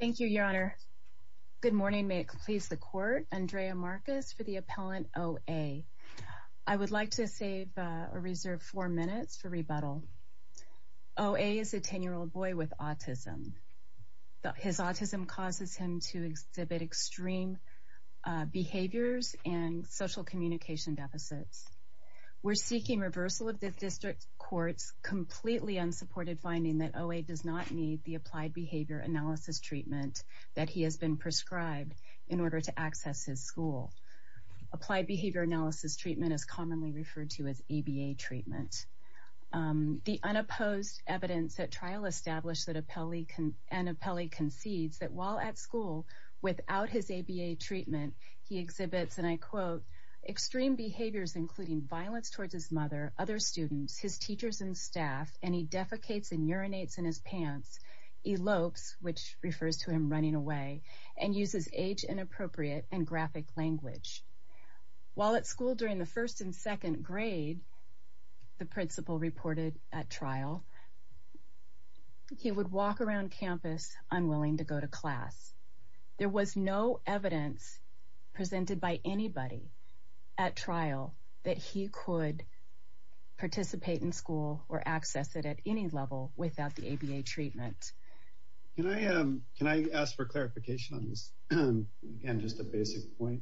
Thank you, Your Honor. Good morning. May it please the court, Andrea Marcus for the appellant OA. I would like to save a reserve four minutes for rebuttal. OA is a 10 year old boy with autism. His autism causes him to exhibit extreme behaviors and social communication deficits. We're seeking reversal of this district courts completely unsupported finding that OA does not need the applied behavior analysis treatment that he has been prescribed in order to access his school. Applied Behavior Analysis Treatment is commonly referred to as ABA treatment. The unopposed evidence at trial established that appellee can an appellee concedes that while at school, without his ABA treatment, he exhibits and I quote, extreme behaviors, including violence towards his mother, other students, his teachers and staff and he defecates and urinates in his pants, elopes, which refers to him running away and uses age inappropriate and graphic language. While at school during the first and second grade, the principal reported at trial. He would walk around campus unwilling to go to class. There was no evidence presented by anybody at trial that he could participate in school or access it at any level without the ABA treatment. Can I can I ask for clarification on this? And just a basic point?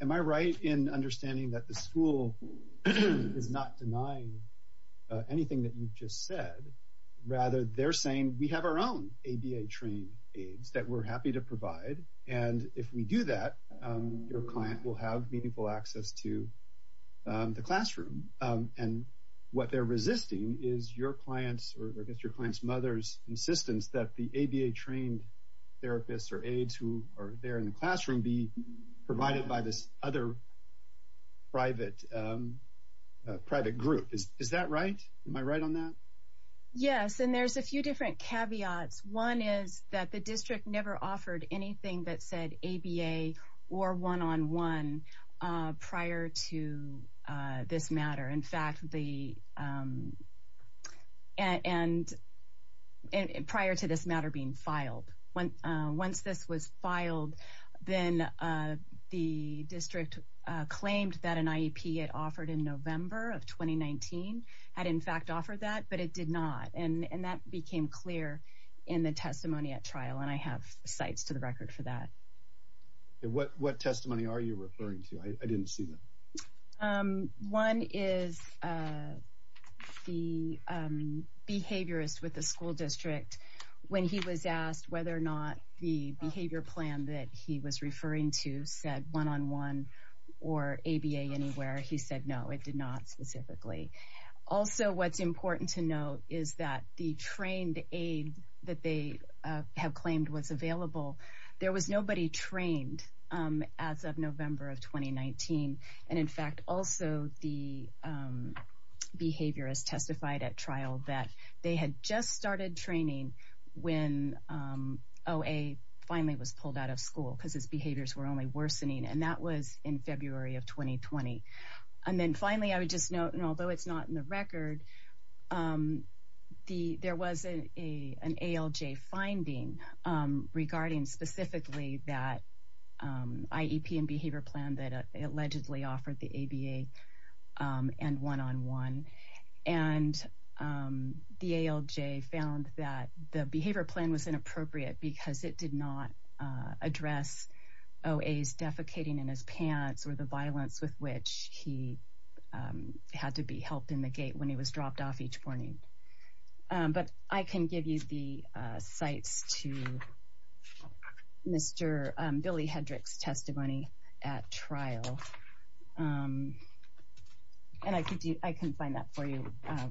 Am I right in understanding that the school is not denying anything that you've just said? Rather, they're saying we have our own ABA trained aides that we're happy to provide. And if we do that, your client will have meaningful clients or against your client's mother's insistence that the ABA trained therapists or aides who are there in the classroom be provided by this other private private group? Is that right? Am I right on that? Yes. And there's a few different caveats. One is that the district never offered anything that said ABA or one on one prior to this matter. In fact, the and and prior to this matter being filed, when once this was filed, then the district claimed that an IEP it offered in November of 2019 had in fact offered that but it did not. And that became clear in the testimony at trial and I have sites to the record for that. What what testimony are you referring to? I didn't see that. One is the behaviorist with the school district, when he was asked whether or not the behavior plan that he was referring to said one on one, or ABA anywhere he said no, it did not specifically. Also, what's important to note is that the trained aid that they have claimed was available. There was also the behaviorist testified at trial that they had just started training when Oh, a finally was pulled out of school because his behaviors were only worsening. And that was in February of 2020. And then finally, I would just note and although it's not in the record, the there was a an ALJ finding regarding specifically that IEP and behavior plan that allegedly offered the ABA and one on one. And the ALJ found that the behavior plan was inappropriate because it did not address. Oh, a is defecating in his pants or the violence with which he had to be helped in the gate when he was dropped off each morning. But I can give you the sites to Mr. Billy Hendricks testimony at trial. And I can do I can find that for you.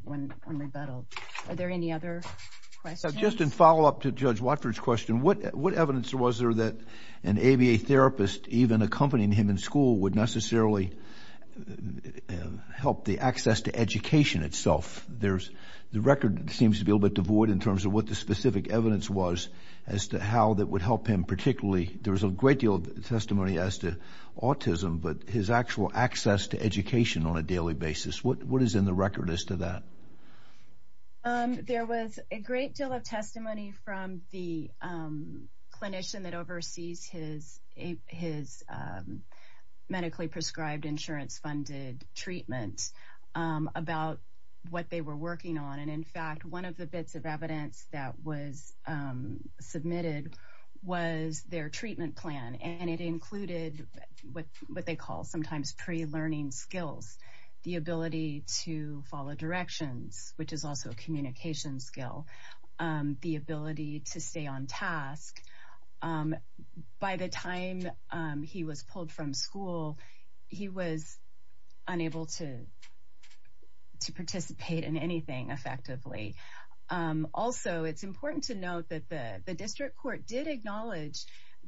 When on rebuttal. Are there any other questions? Just in follow up to Judge Watford's question, what what evidence was there that an ABA therapist even accompanying him in school would necessarily help the access to education itself? There's the record seems to be a little bit devoid in terms of what the specific evidence was, as to how that would help him particularly, there was a great deal of testimony as to autism, but his actual access to education on a daily basis, what is in the record as to that? There was a great deal of testimony from the clinician that oversees his his medically prescribed insurance funded treatment about what they were working on. And in fact, one of the bits of evidence that was submitted was their treatment plan. And it included what what they call sometimes pre learning skills, the ability to follow directions, which is also a communication skill, the ability to stay on task. By the time he was pulled from school, he was unable to, to participate in anything effectively. Also, it's important to note that the district court did acknowledge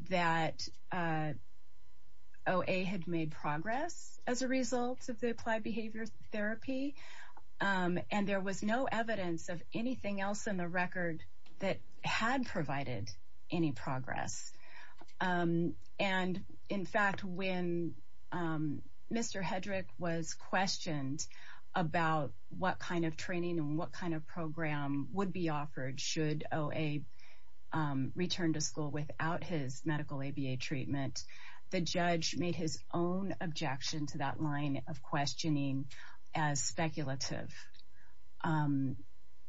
that OA had made progress as a result of the applied behavior therapy. And there was no evidence of anything else in the record that had provided any progress. And in fact, when Mr. Hedrick was questioned about what kind of training and what kind of program would be offered should OA return to school without his medical ABA treatment, the judge made his own objection to that line of questioning as speculative.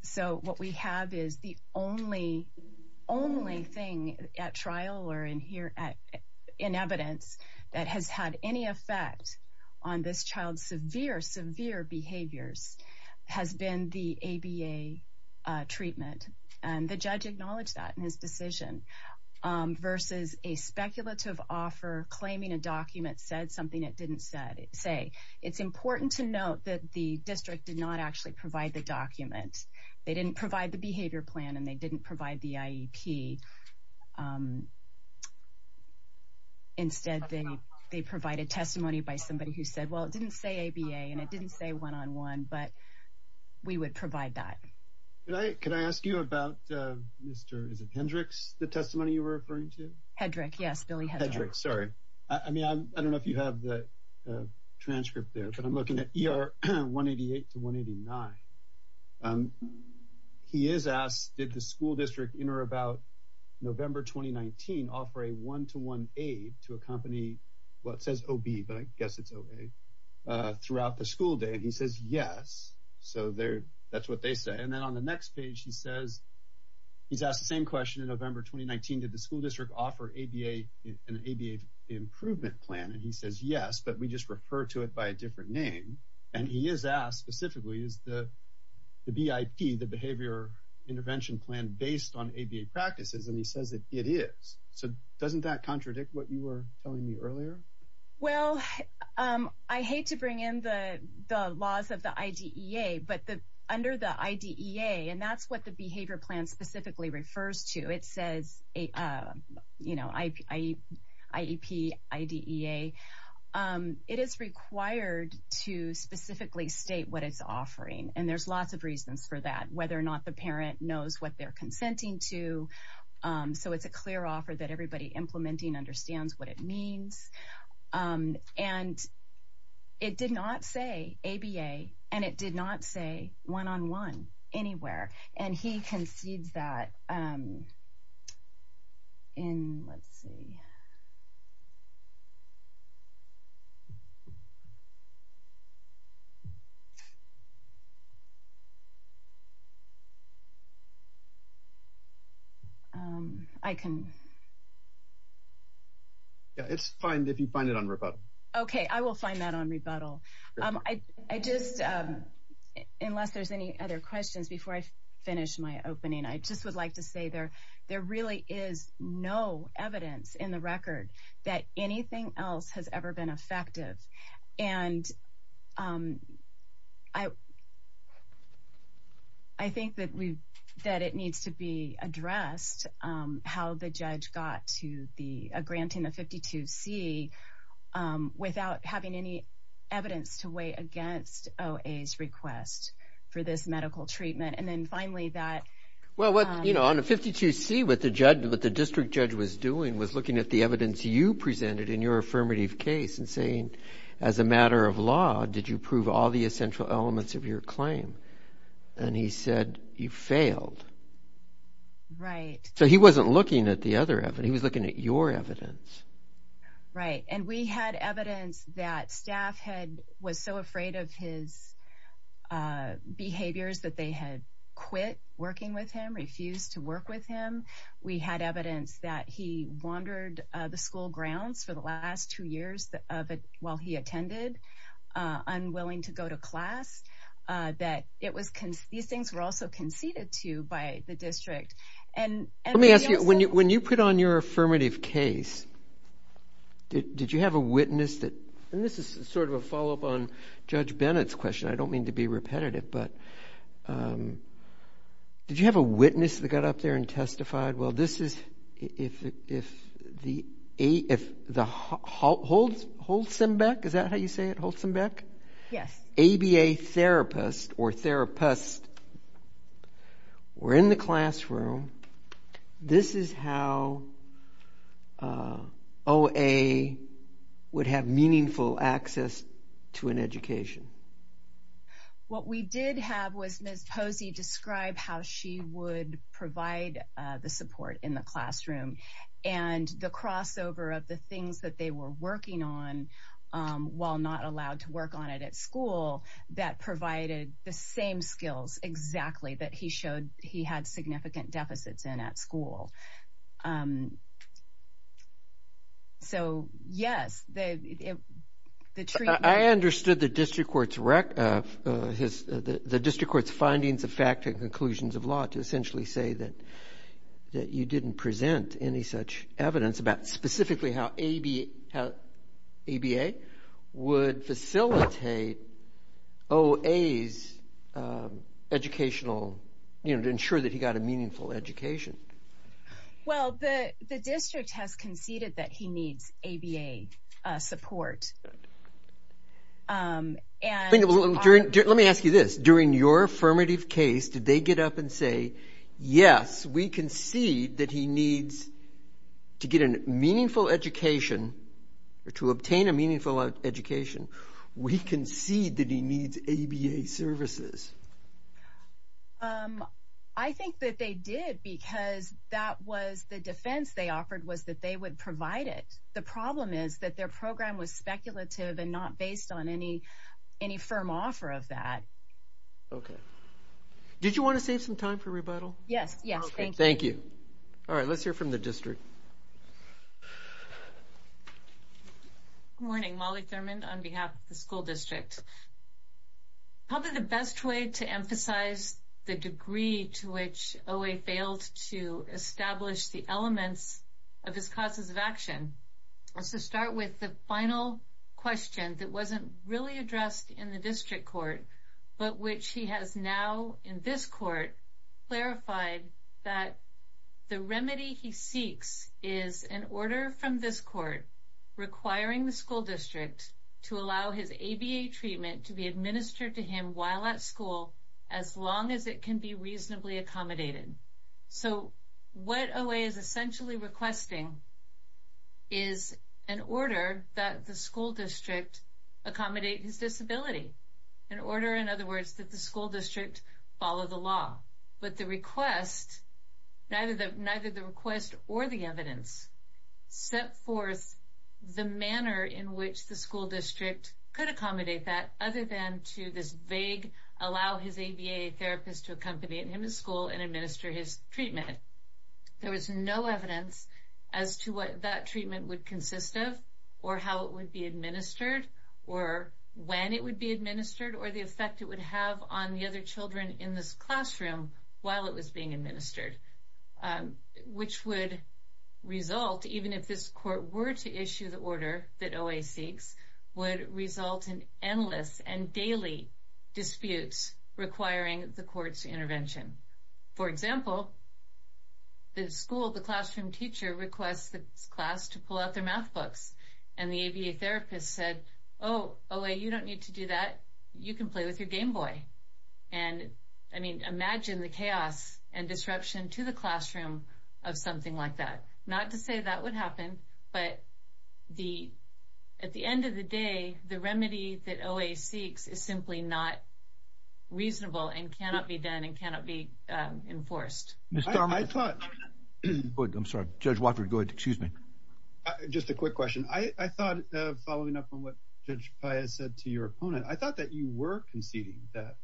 So what we have is the only, only thing at trial or in here at in evidence that has had any effect on this child's severe, severe behaviors has been the ABA treatment. And the judge acknowledged that in his decision, versus a speculative offer claiming a document said something it didn't say. It's important to note that the district did not actually provide the document. They didn't provide the behavior plan and they didn't provide the IEP. Instead, they, they provided testimony by somebody who said, well, it didn't say ABA and it didn't say one on one, but we would provide that. Right. Can I ask you about Mr. Hendricks, the testimony you were referring to? Hendrick. Yes, Billy Hendrick. Sorry. I mean, I don't know if you have the transcript there, but I'm looking at ER 188 to 189. He is asked, did the school district enter about, you know, November 2019 offer a one to one aid to a company? Well, it says OB, but I guess it's OA throughout the school day. And he says, yes. So there, that's what they say. And then on the next page, he says, he's asked the same question in November 2019, did the school district offer ABA, an ABA improvement plan? And he says, yes, but we just refer to it by a different name. And he is asked specifically is the BIP, the ABA practices, and he says that it is. So doesn't that contradict what you were telling me earlier? Well, I hate to bring in the laws of the IDEA, but the under the IDEA, and that's what the behavior plan specifically refers to, it says a, you know, I, I, IEP, IDEA, it is required to specifically state what it's offering. And there's lots of reasons for that, whether or not the parent knows what they're consenting to. So it's a clear offer that everybody implementing understands what it means. And it did not say ABA, and it did not say one on one anywhere. And he concedes that in let's see. Um, I can. Yeah, it's fine if you find it on rebuttal. Okay, I will find that on rebuttal. I just, unless there's any other questions before I finish my opening, I just would like to say there, there really is no evidence in the record that anything else has ever been effective. And I, I think that that it needs to be addressed, how the judge got to the granting of 52 C, without having any evidence to weigh against OA's request for this medical treatment. And then finally, that, well, what, you know, on a 52 C, what the judge, what the district judge was doing was looking at the evidence you presented in your affirmative case and saying, as a matter of law, did you prove all the essential elements of your failed? Right. So he wasn't looking at the other evidence, he was looking at your evidence. Right. And we had evidence that staff had was so afraid of his behaviors that they had quit working with him refused to work with him. We had evidence that he wandered the school grounds for the last two years of it while he attended, unwilling to go to class, that it was, these things were also conceded to by the district. And let me ask you, when you, when you put on your affirmative case, did you have a witness that, and this is sort of a follow up on Judge Bennett's question, I don't mean to be repetitive, but did you have a witness that got up there and testified? Well, this is if, if the A, if the Holtzenbeck, is that how you say it, Holtzenbeck? Yes. ABA therapist or therapist were in the classroom. This is how O.A. would have meaningful access to an education. What we did have was Ms. Posey describe how she would provide the support in the classroom. And the crossover of the things that they were working on, while not allowed to work on it at school, that provided the same skills exactly that he showed he had significant deficits in at school. So, yes, the, the treatment... I understood the district court's rec, his, the district court's findings of fact and conclusions of law to essentially say that, that you didn't present any such evidence about specifically how ABA, how ABA would facilitate O.A.'s educational, you know, to ensure that he got a meaningful education. Well, the, the district has conceded that he needs ABA support. And... Let me ask you this, during your affirmative case, did they get up and say, yes, we concede that he needs to get a meaningful education, or to obtain a meaningful education, we concede that he needs ABA services? I think that they did, because that was the defense they offered was that they would provide it. The problem is that their program was speculative and not based on any, any firm offer of that. Okay. Did you want to save some time for rebuttal? Yes, yes. Thank you. All right, let's hear from the district. Morning, Molly Thurmond on behalf of the school district. Probably the best way to emphasize the degree to which O.A. failed to establish the elements of his causes of action was to start with the final question that wasn't really but which he has now in this court, clarified that the remedy he seeks is an order from this court, requiring the school district to allow his ABA treatment to be administered to him while at school, as long as it can be reasonably accommodated. So what O.A. is essentially requesting is an order that the school district accommodate his disability, an order that the school district follow the law. But the request, neither the request or the evidence set forth the manner in which the school district could accommodate that other than to this vague, allow his ABA therapist to accompany him to school and administer his treatment. There was no evidence as to what that treatment would consist of, or how it would be administered, or when it would be administered, or the effect it would have on the other children in this classroom while it was being administered, which would result, even if this court were to issue the order that O.A. seeks, would result in endless and daily disputes requiring the court's intervention. For example, the school, the classroom teacher requests the class to pull out their math books. And the ABA therapist said, Oh, O.A., you don't need to do that. You can play with your Game Boy. And I mean, imagine the chaos and disruption to the classroom of something like that. Not to say that would happen. But the, at the end of the day, the remedy that O.A. seeks is simply not reasonable and cannot be done and cannot be enforced. I thought, I'm sorry, Judge Watford, go ahead. Excuse me. Just a quick question. I thought, following up on what Judge Paya said to your opponent, I thought that you were conceding that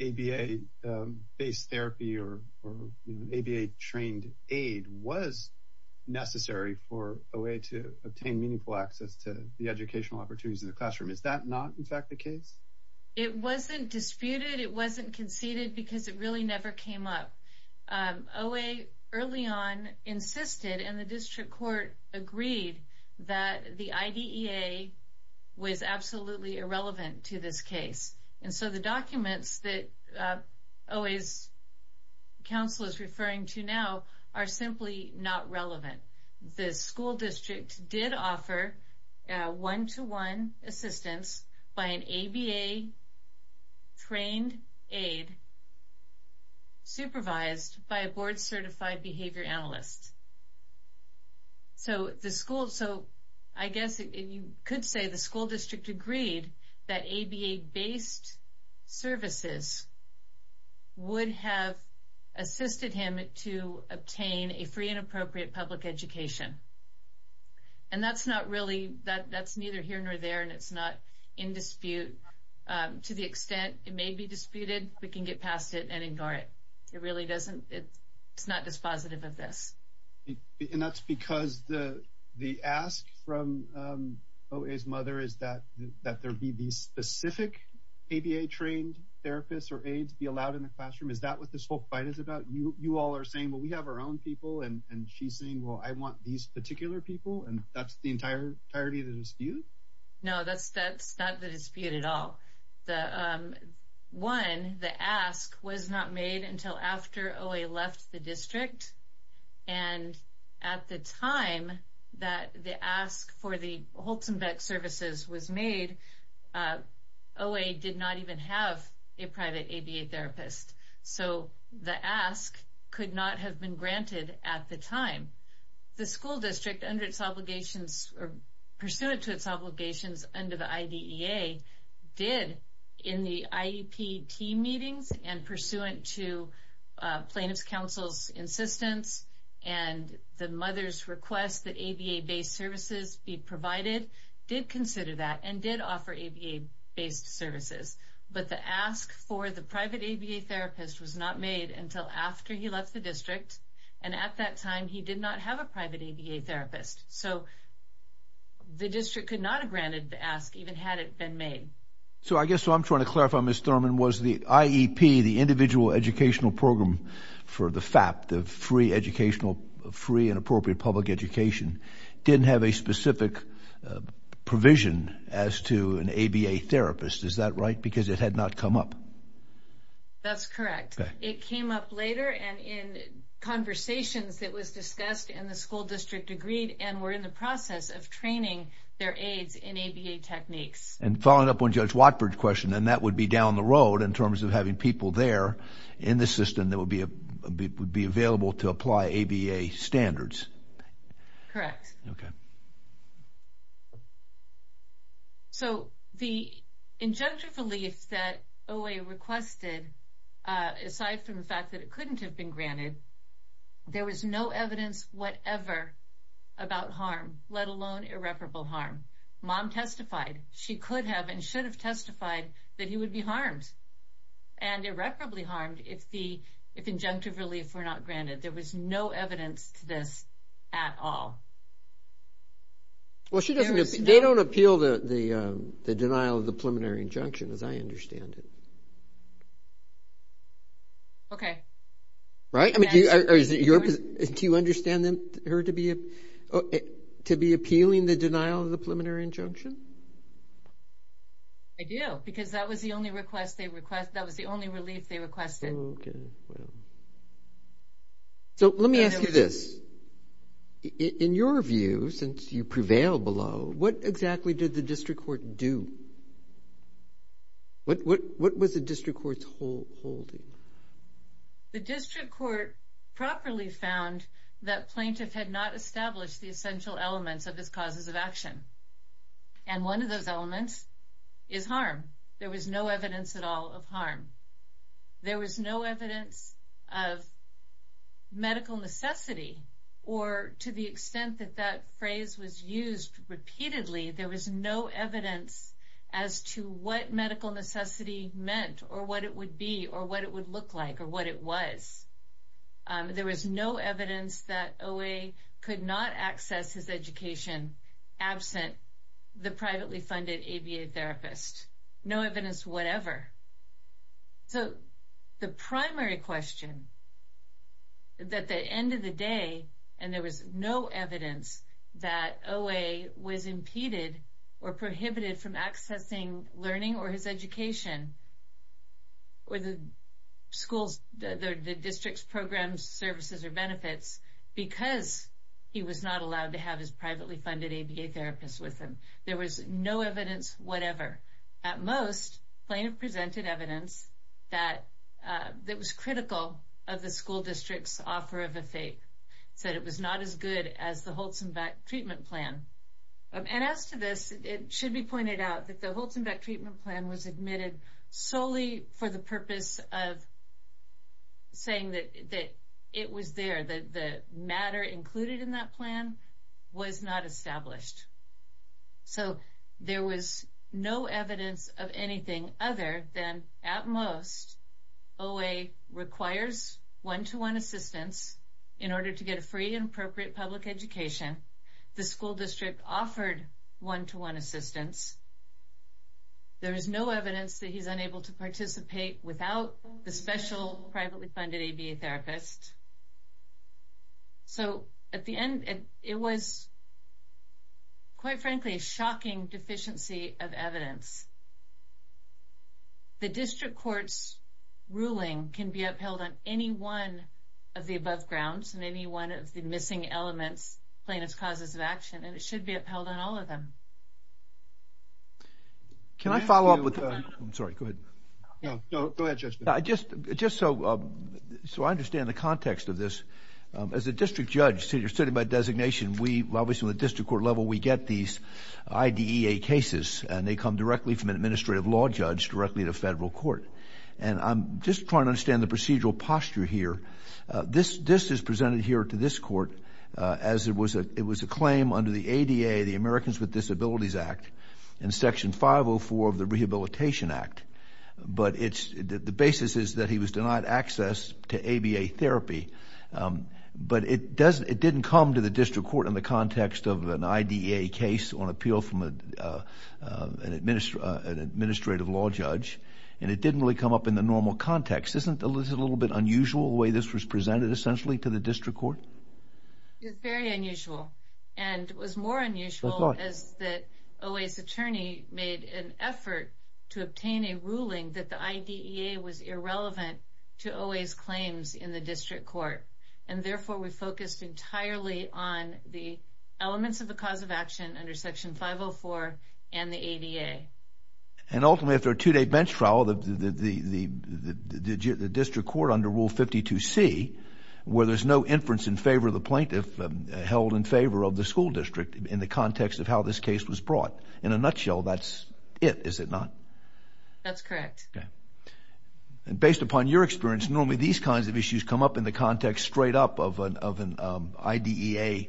ABA-based therapy or ABA-trained aid was necessary for O.A. to obtain meaningful access to the educational opportunities in the classroom. Is that not, in fact, the case? It wasn't disputed. It wasn't conceded because it really never came up. O.A. early on insisted, and the district court agreed, that the IDEA was absolutely irrelevant to this case. And so the documents that O.A.'s counsel is referring to now are simply not relevant. The school district did offer one-to-one assistance by an ABA-trained aid supervised by a board-certified behavior analyst. So the school, so I guess you could say the school district agreed that ABA-based services would have assisted him to obtain a free and appropriate public education. And that's not really, that's neither here nor there, and it's not in dispute. To the extent it may be disputed, we can get past it and ignore it. It really doesn't, it's not dispositive of this. And that's because the ask from O.A.'s mother is that there be these specific ABA-trained therapists or aids be allowed in the classroom. Is that what this whole fight is about? You all are saying, well, we have our own people, and she's saying, well, I want these particular people, and that's the entirety of the dispute? No, that's not the dispute at all. One, the ask was not made until after O.A. left the district. And at the time that the ask for the Holzenbeck services was made, O.A. did not even have a private ABA therapist. So the ask could not have been granted at the time. The school district under its obligations or pursuant to its obligations under the IDEA did in the IEP team meetings and pursuant to plaintiff's counsel's insistence, and the mother's request that ABA-based services be provided, did consider that and did offer ABA-based services. But the ask for the private ABA therapist was not made until after he left the district. And at that time, he did not have a private ABA therapist. So the district could not have granted the ask even had it been made. So I guess what I'm trying to clarify, Ms. Thurman, was the IEP, the Individual Educational Program for the FAP, the free educational, free and appropriate public education, didn't have a specific provision as to an ABA therapist. Is that right? Because it had not come up. That's correct. It came up later and in conversations that was discussed and the school district agreed and were in the process of training their aides in ABA techniques. And following up on Judge Watford's question, and that would be down the road in terms of having people there in the system that would be available to apply ABA standards. Correct. So the injunctive relief that OA requested, aside from the fact that it couldn't have been granted, there was no evidence whatever about harm, let alone irreparable harm. Mom testified, she could have and should have testified that he would be harmed and irreparably harmed if the injunctive relief were not granted. There was no evidence to this at all. Well, she doesn't, they don't appeal to the denial of the preliminary injunction, as I understand it. Okay. Right. Do you understand her to be appealing the denial of the injunctive relief? I do, because that was the only request they requested. That was the only relief they requested. So let me ask you this. In your view, since you prevail below, what exactly did the district court do? What, what, what was the district court's whole holding? The district court properly found that plaintiff had not and one of those elements is harm. There was no evidence at all of harm. There was no evidence of medical necessity, or to the extent that that phrase was used repeatedly, there was no evidence as to what medical necessity meant or what it would be or what it would look like or what it was. There was no evidence that OA could not access his education absent the privately funded ABA therapist, no evidence whatever. So the primary question, at the end of the day, and there was no evidence that OA was impeded or prohibited from accessing learning or his education, or the school's, the district's programs, services or benefits, because he was not allowed to There was no evidence, whatever. At most plaintiff presented evidence that that was critical of the school district's offer of a fate said it was not as good as the Holzenbeck treatment plan. And as to this, it should be pointed out that the Holzenbeck treatment plan was admitted solely for the purpose of saying that it was there that the matter included in that plan was not established. So there was no evidence of anything other than at most, OA requires one to one assistance in order to get a free and appropriate public education. The school district offered one to one assistance. There is no evidence that he's unable to participate without the special privately funded ABA therapist. So at the end, it was, quite frankly, shocking deficiency of evidence. The district courts ruling can be upheld on any one of the above grounds and any one of the missing elements, plaintiff's causes of action, and it should be upheld on all of them. Can I follow up with? I'm sorry, good. No, no, go ahead. I just, just so, so I understand the context of this. As a district judge, so you're sitting by designation, we obviously with district court level, we get these IDEA cases, and they come directly from an administrative law judge directly to federal court. And I'm just trying to understand the procedural posture here. This, this is presented here to this court, as it was a, it was a claim under the ADA, the Americans with Disabilities Act, and section 504 of the basis is that he was denied access to ABA therapy. But it doesn't, it didn't come to the district court in the context of an IDEA case on appeal from an administrative, an administrative law judge. And it didn't really come up in the normal context. Isn't a little bit unusual the way this was presented essentially to the district court? It's very unusual. And what's more unusual is that OA's attorney made an effort to obtain a ruling that the IDEA was irrelevant to OA's claims in the district court. And therefore, we focused entirely on the elements of the cause of action under section 504, and the ADA. And ultimately, if they're two day bench trial, the district court under Rule 52 C, where there's no inference in favor of the plaintiff held in favor of the school district in the context of how this case was brought. In a nutshell, that's it, is it not? That's correct. And based upon your experience, normally, these kinds of issues come up in the context straight up of an IDEA,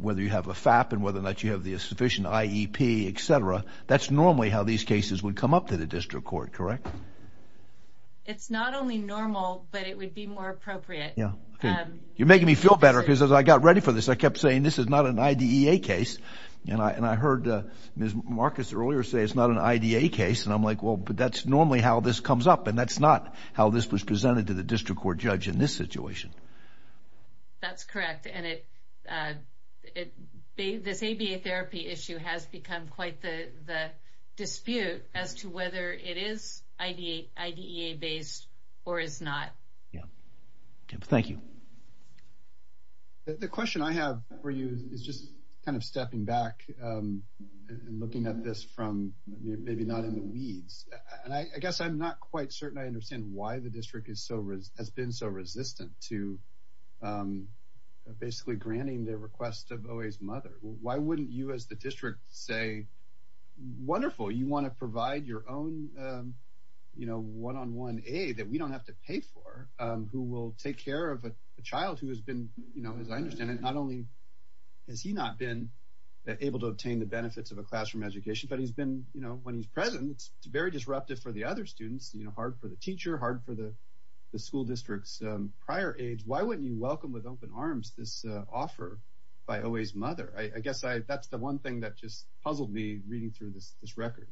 whether you have a FAP and whether or not you have the sufficient IEP, etc. That's normally how these cases would come up to the district court, correct? It's not only normal, but it would be more appropriate. Yeah. You're making me feel better. Because as I got ready for this, I kept saying this is not an IDEA case. And I heard Ms. Marcus earlier say it's not an IDEA case. And I'm like, well, but that's normally how this comes up. And that's not how this was presented to the district court judge in this situation. That's correct. And it this ABA therapy issue has become quite the dispute as to whether it is IDEA based or is not. Yeah. Thank you. The question I have for you is just kind of stepping back and maybe not in the weeds. And I guess I'm not quite certain I understand why the district has been so resistant to basically granting the request of OA's mother. Why wouldn't you as the district say, wonderful, you want to provide your own, you know, one on one aid that we don't have to pay for, who will take care of a child who has been, you know, as I understand it, not only has he not been able to obtain the benefits of a you know, when he's present, it's very disruptive for the other students, you know, hard for the teacher hard for the school districts prior age, why wouldn't you welcome with open arms this offer by OA's mother, I guess I that's the one thing that just puzzled me reading through this this record.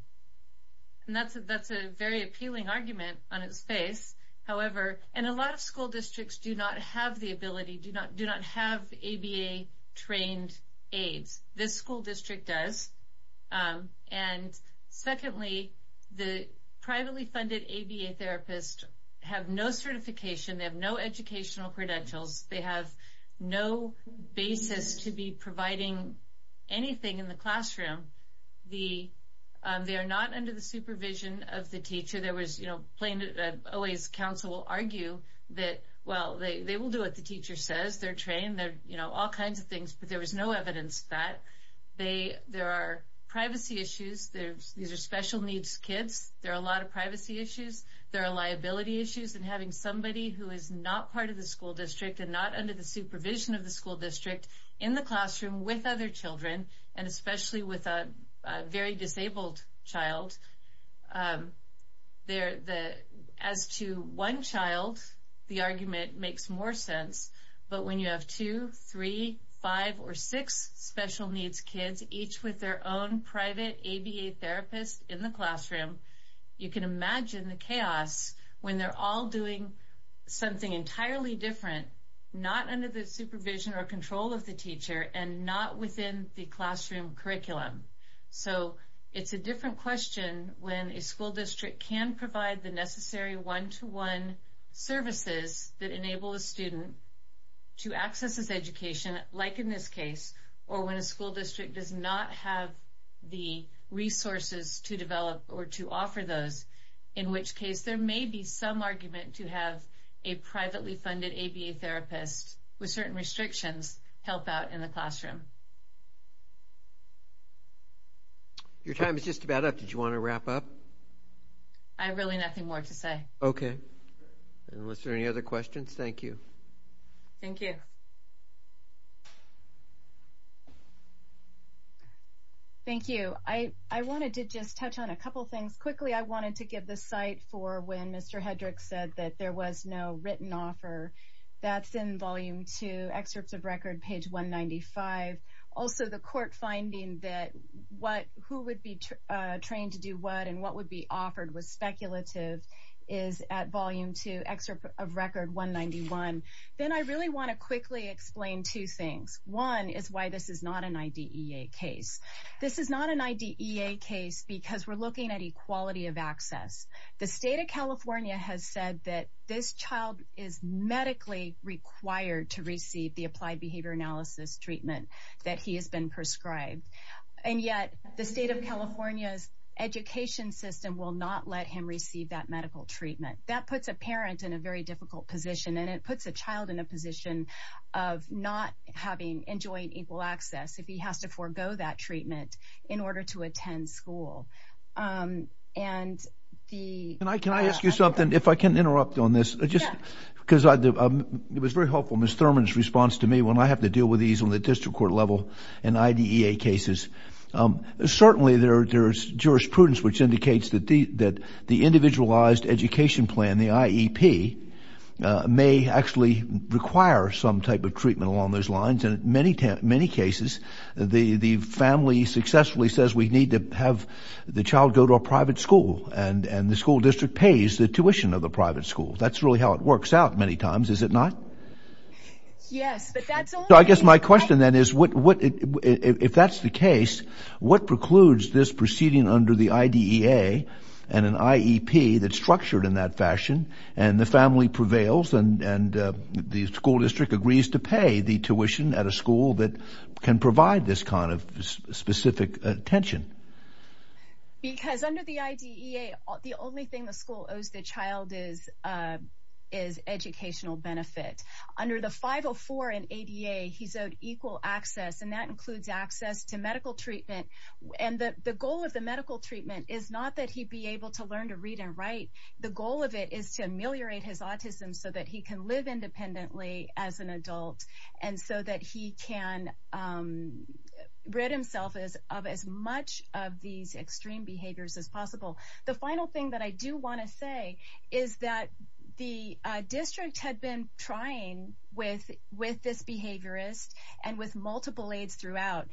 And that's, that's a very appealing argument on its face. However, and a lot of school districts do not have the ability do not do not have ABA trained aids, this school district does. And secondly, the privately funded ABA therapist have no certification, they have no educational credentials, they have no basis to be providing anything in the classroom, the they are not under the supervision of the teacher, there was, you know, plain, OA's counsel will argue that, well, they will do what the teacher says they're trained, they're, you know, all kinds of things, but there was no evidence that they there are privacy issues, there's these are special needs kids, there are a lot of privacy issues, there are liability issues and having somebody who is not part of the school district and not under the supervision of the school district in the classroom with other children, and especially with a very disabled child. There, the as to one child, the argument makes more sense. But when you have two, three, five or six special needs kids, each with their own private ABA therapist in the classroom, you can imagine the chaos when they're all doing something entirely different, not under the supervision or control of the teacher and not within the classroom curriculum. So it's a different question when a school district can provide the necessary one to one services that enable a student to access this education, like in this case, or when a school district does not have the resources to develop or to offer those, in which case there may be some argument to have a privately funded ABA therapist with certain restrictions help out in the classroom. Your time is just about up. Did you want to wrap up? I really nothing more to say. Okay. And was there any other questions? Thank you. Thank you. Thank you. I I wanted to just touch on a couple things quickly. I wanted to give the site for when Mr. Hendricks said that there was no written offer. That's in volume two excerpts of record page 195. Also, the court finding that what who would be trained to do what and what would be offered was speculative is at volume two excerpt of record 191. Then I really want to quickly explain two things. One is why this is not an IDEA case. This is not an IDEA case, because we're looking at equality of access. The state of California has said that this child is medically required to receive the applied behavior analysis treatment that he has been prescribed. And yet the state of California's education system will not let him receive that medical treatment that puts a parent in a very difficult position. And it puts a child in a position of not having enjoying equal access if he has to forego that treatment in order to attend school. And the and I can I ask you something, if I can interrupt on this, just because it was very helpful. Miss Thurman's response to me when I have to deal with these on the there's jurisprudence, which indicates that the that the individualized education plan, the IEP may actually require some type of treatment along those lines. And many, many cases, the family successfully says we need to have the child go to a private school and and the school district pays the tuition of the private school. That's really how it works out many times, is it not? Yes, but I guess my question then is what if that's the case, what precludes this proceeding under the IDEA and an IEP that's structured in that fashion, and the family prevails and the school district agrees to pay the tuition at a school that can provide this kind of specific attention? Because under the IDEA, the only thing the school owes the child is, is educational benefit. Under the 504 and ADA, he's owed equal access and that includes access to medical treatment. And the goal of the medical treatment is not that he'd be able to learn to read and write. The goal of it is to ameliorate his autism so that he can live independently as an adult, and so that he can rid himself as of as much of these extreme behaviors as possible. The final thing that I do want to say is that the district had been trying with with this behaviorist and with multiple aides throughout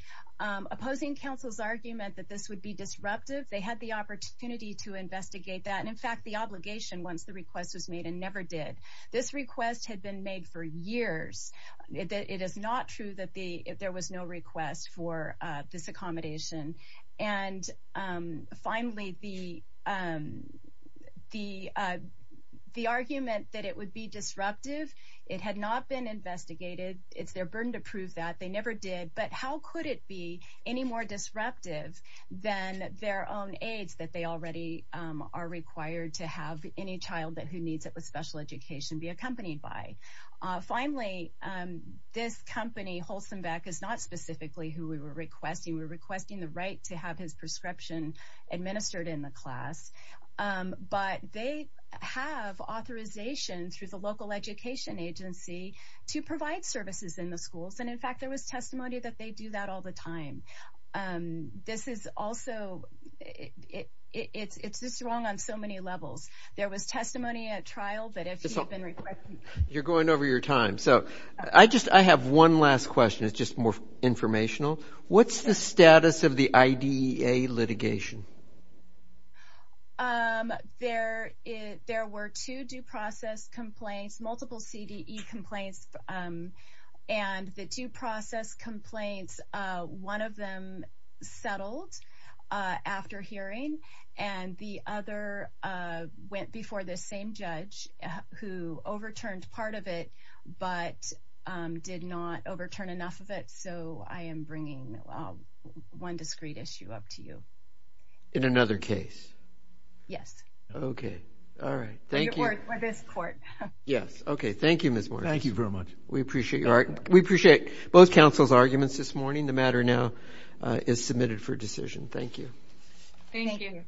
opposing council's argument that this would be disruptive. They had the opportunity to investigate that. And in fact, the obligation once the request was made and never did. This request had been made for years. It is not true that the there was no request for this accommodation. And finally, the the the argument that it would be their burden to prove that they never did. But how could it be any more disruptive than their own aides that they already are required to have any child that who needs it with special education be accompanied by? Finally, this company Holstenbeck is not specifically who we were requesting. We're requesting the right to have his prescription administered in the class. But they have authorization through the local education agency to provide services in the schools. And in fact, there was testimony that they do that all the time. And this is also it. It's it's this wrong on so many levels. There was testimony at trial. But if you're going over your time, so I just I have one last question. It's just more informational. What's the status of the I.D.A litigation? There is there were two due process complaints, multiple C.D.E. complaints. And the due process complaints, one of them settled after hearing and the other went before the same judge who overturned part of it, but did not overturn enough of it. So I am bringing one discrete issue up to you. In another case? Yes. Okay. All right. Thank you. For this court. Yes. Okay. Thank you, Miss. Thank you very much. We appreciate your we appreciate both counsel's arguments this morning. The matter now is submitted for decision. Thank you. Thank you.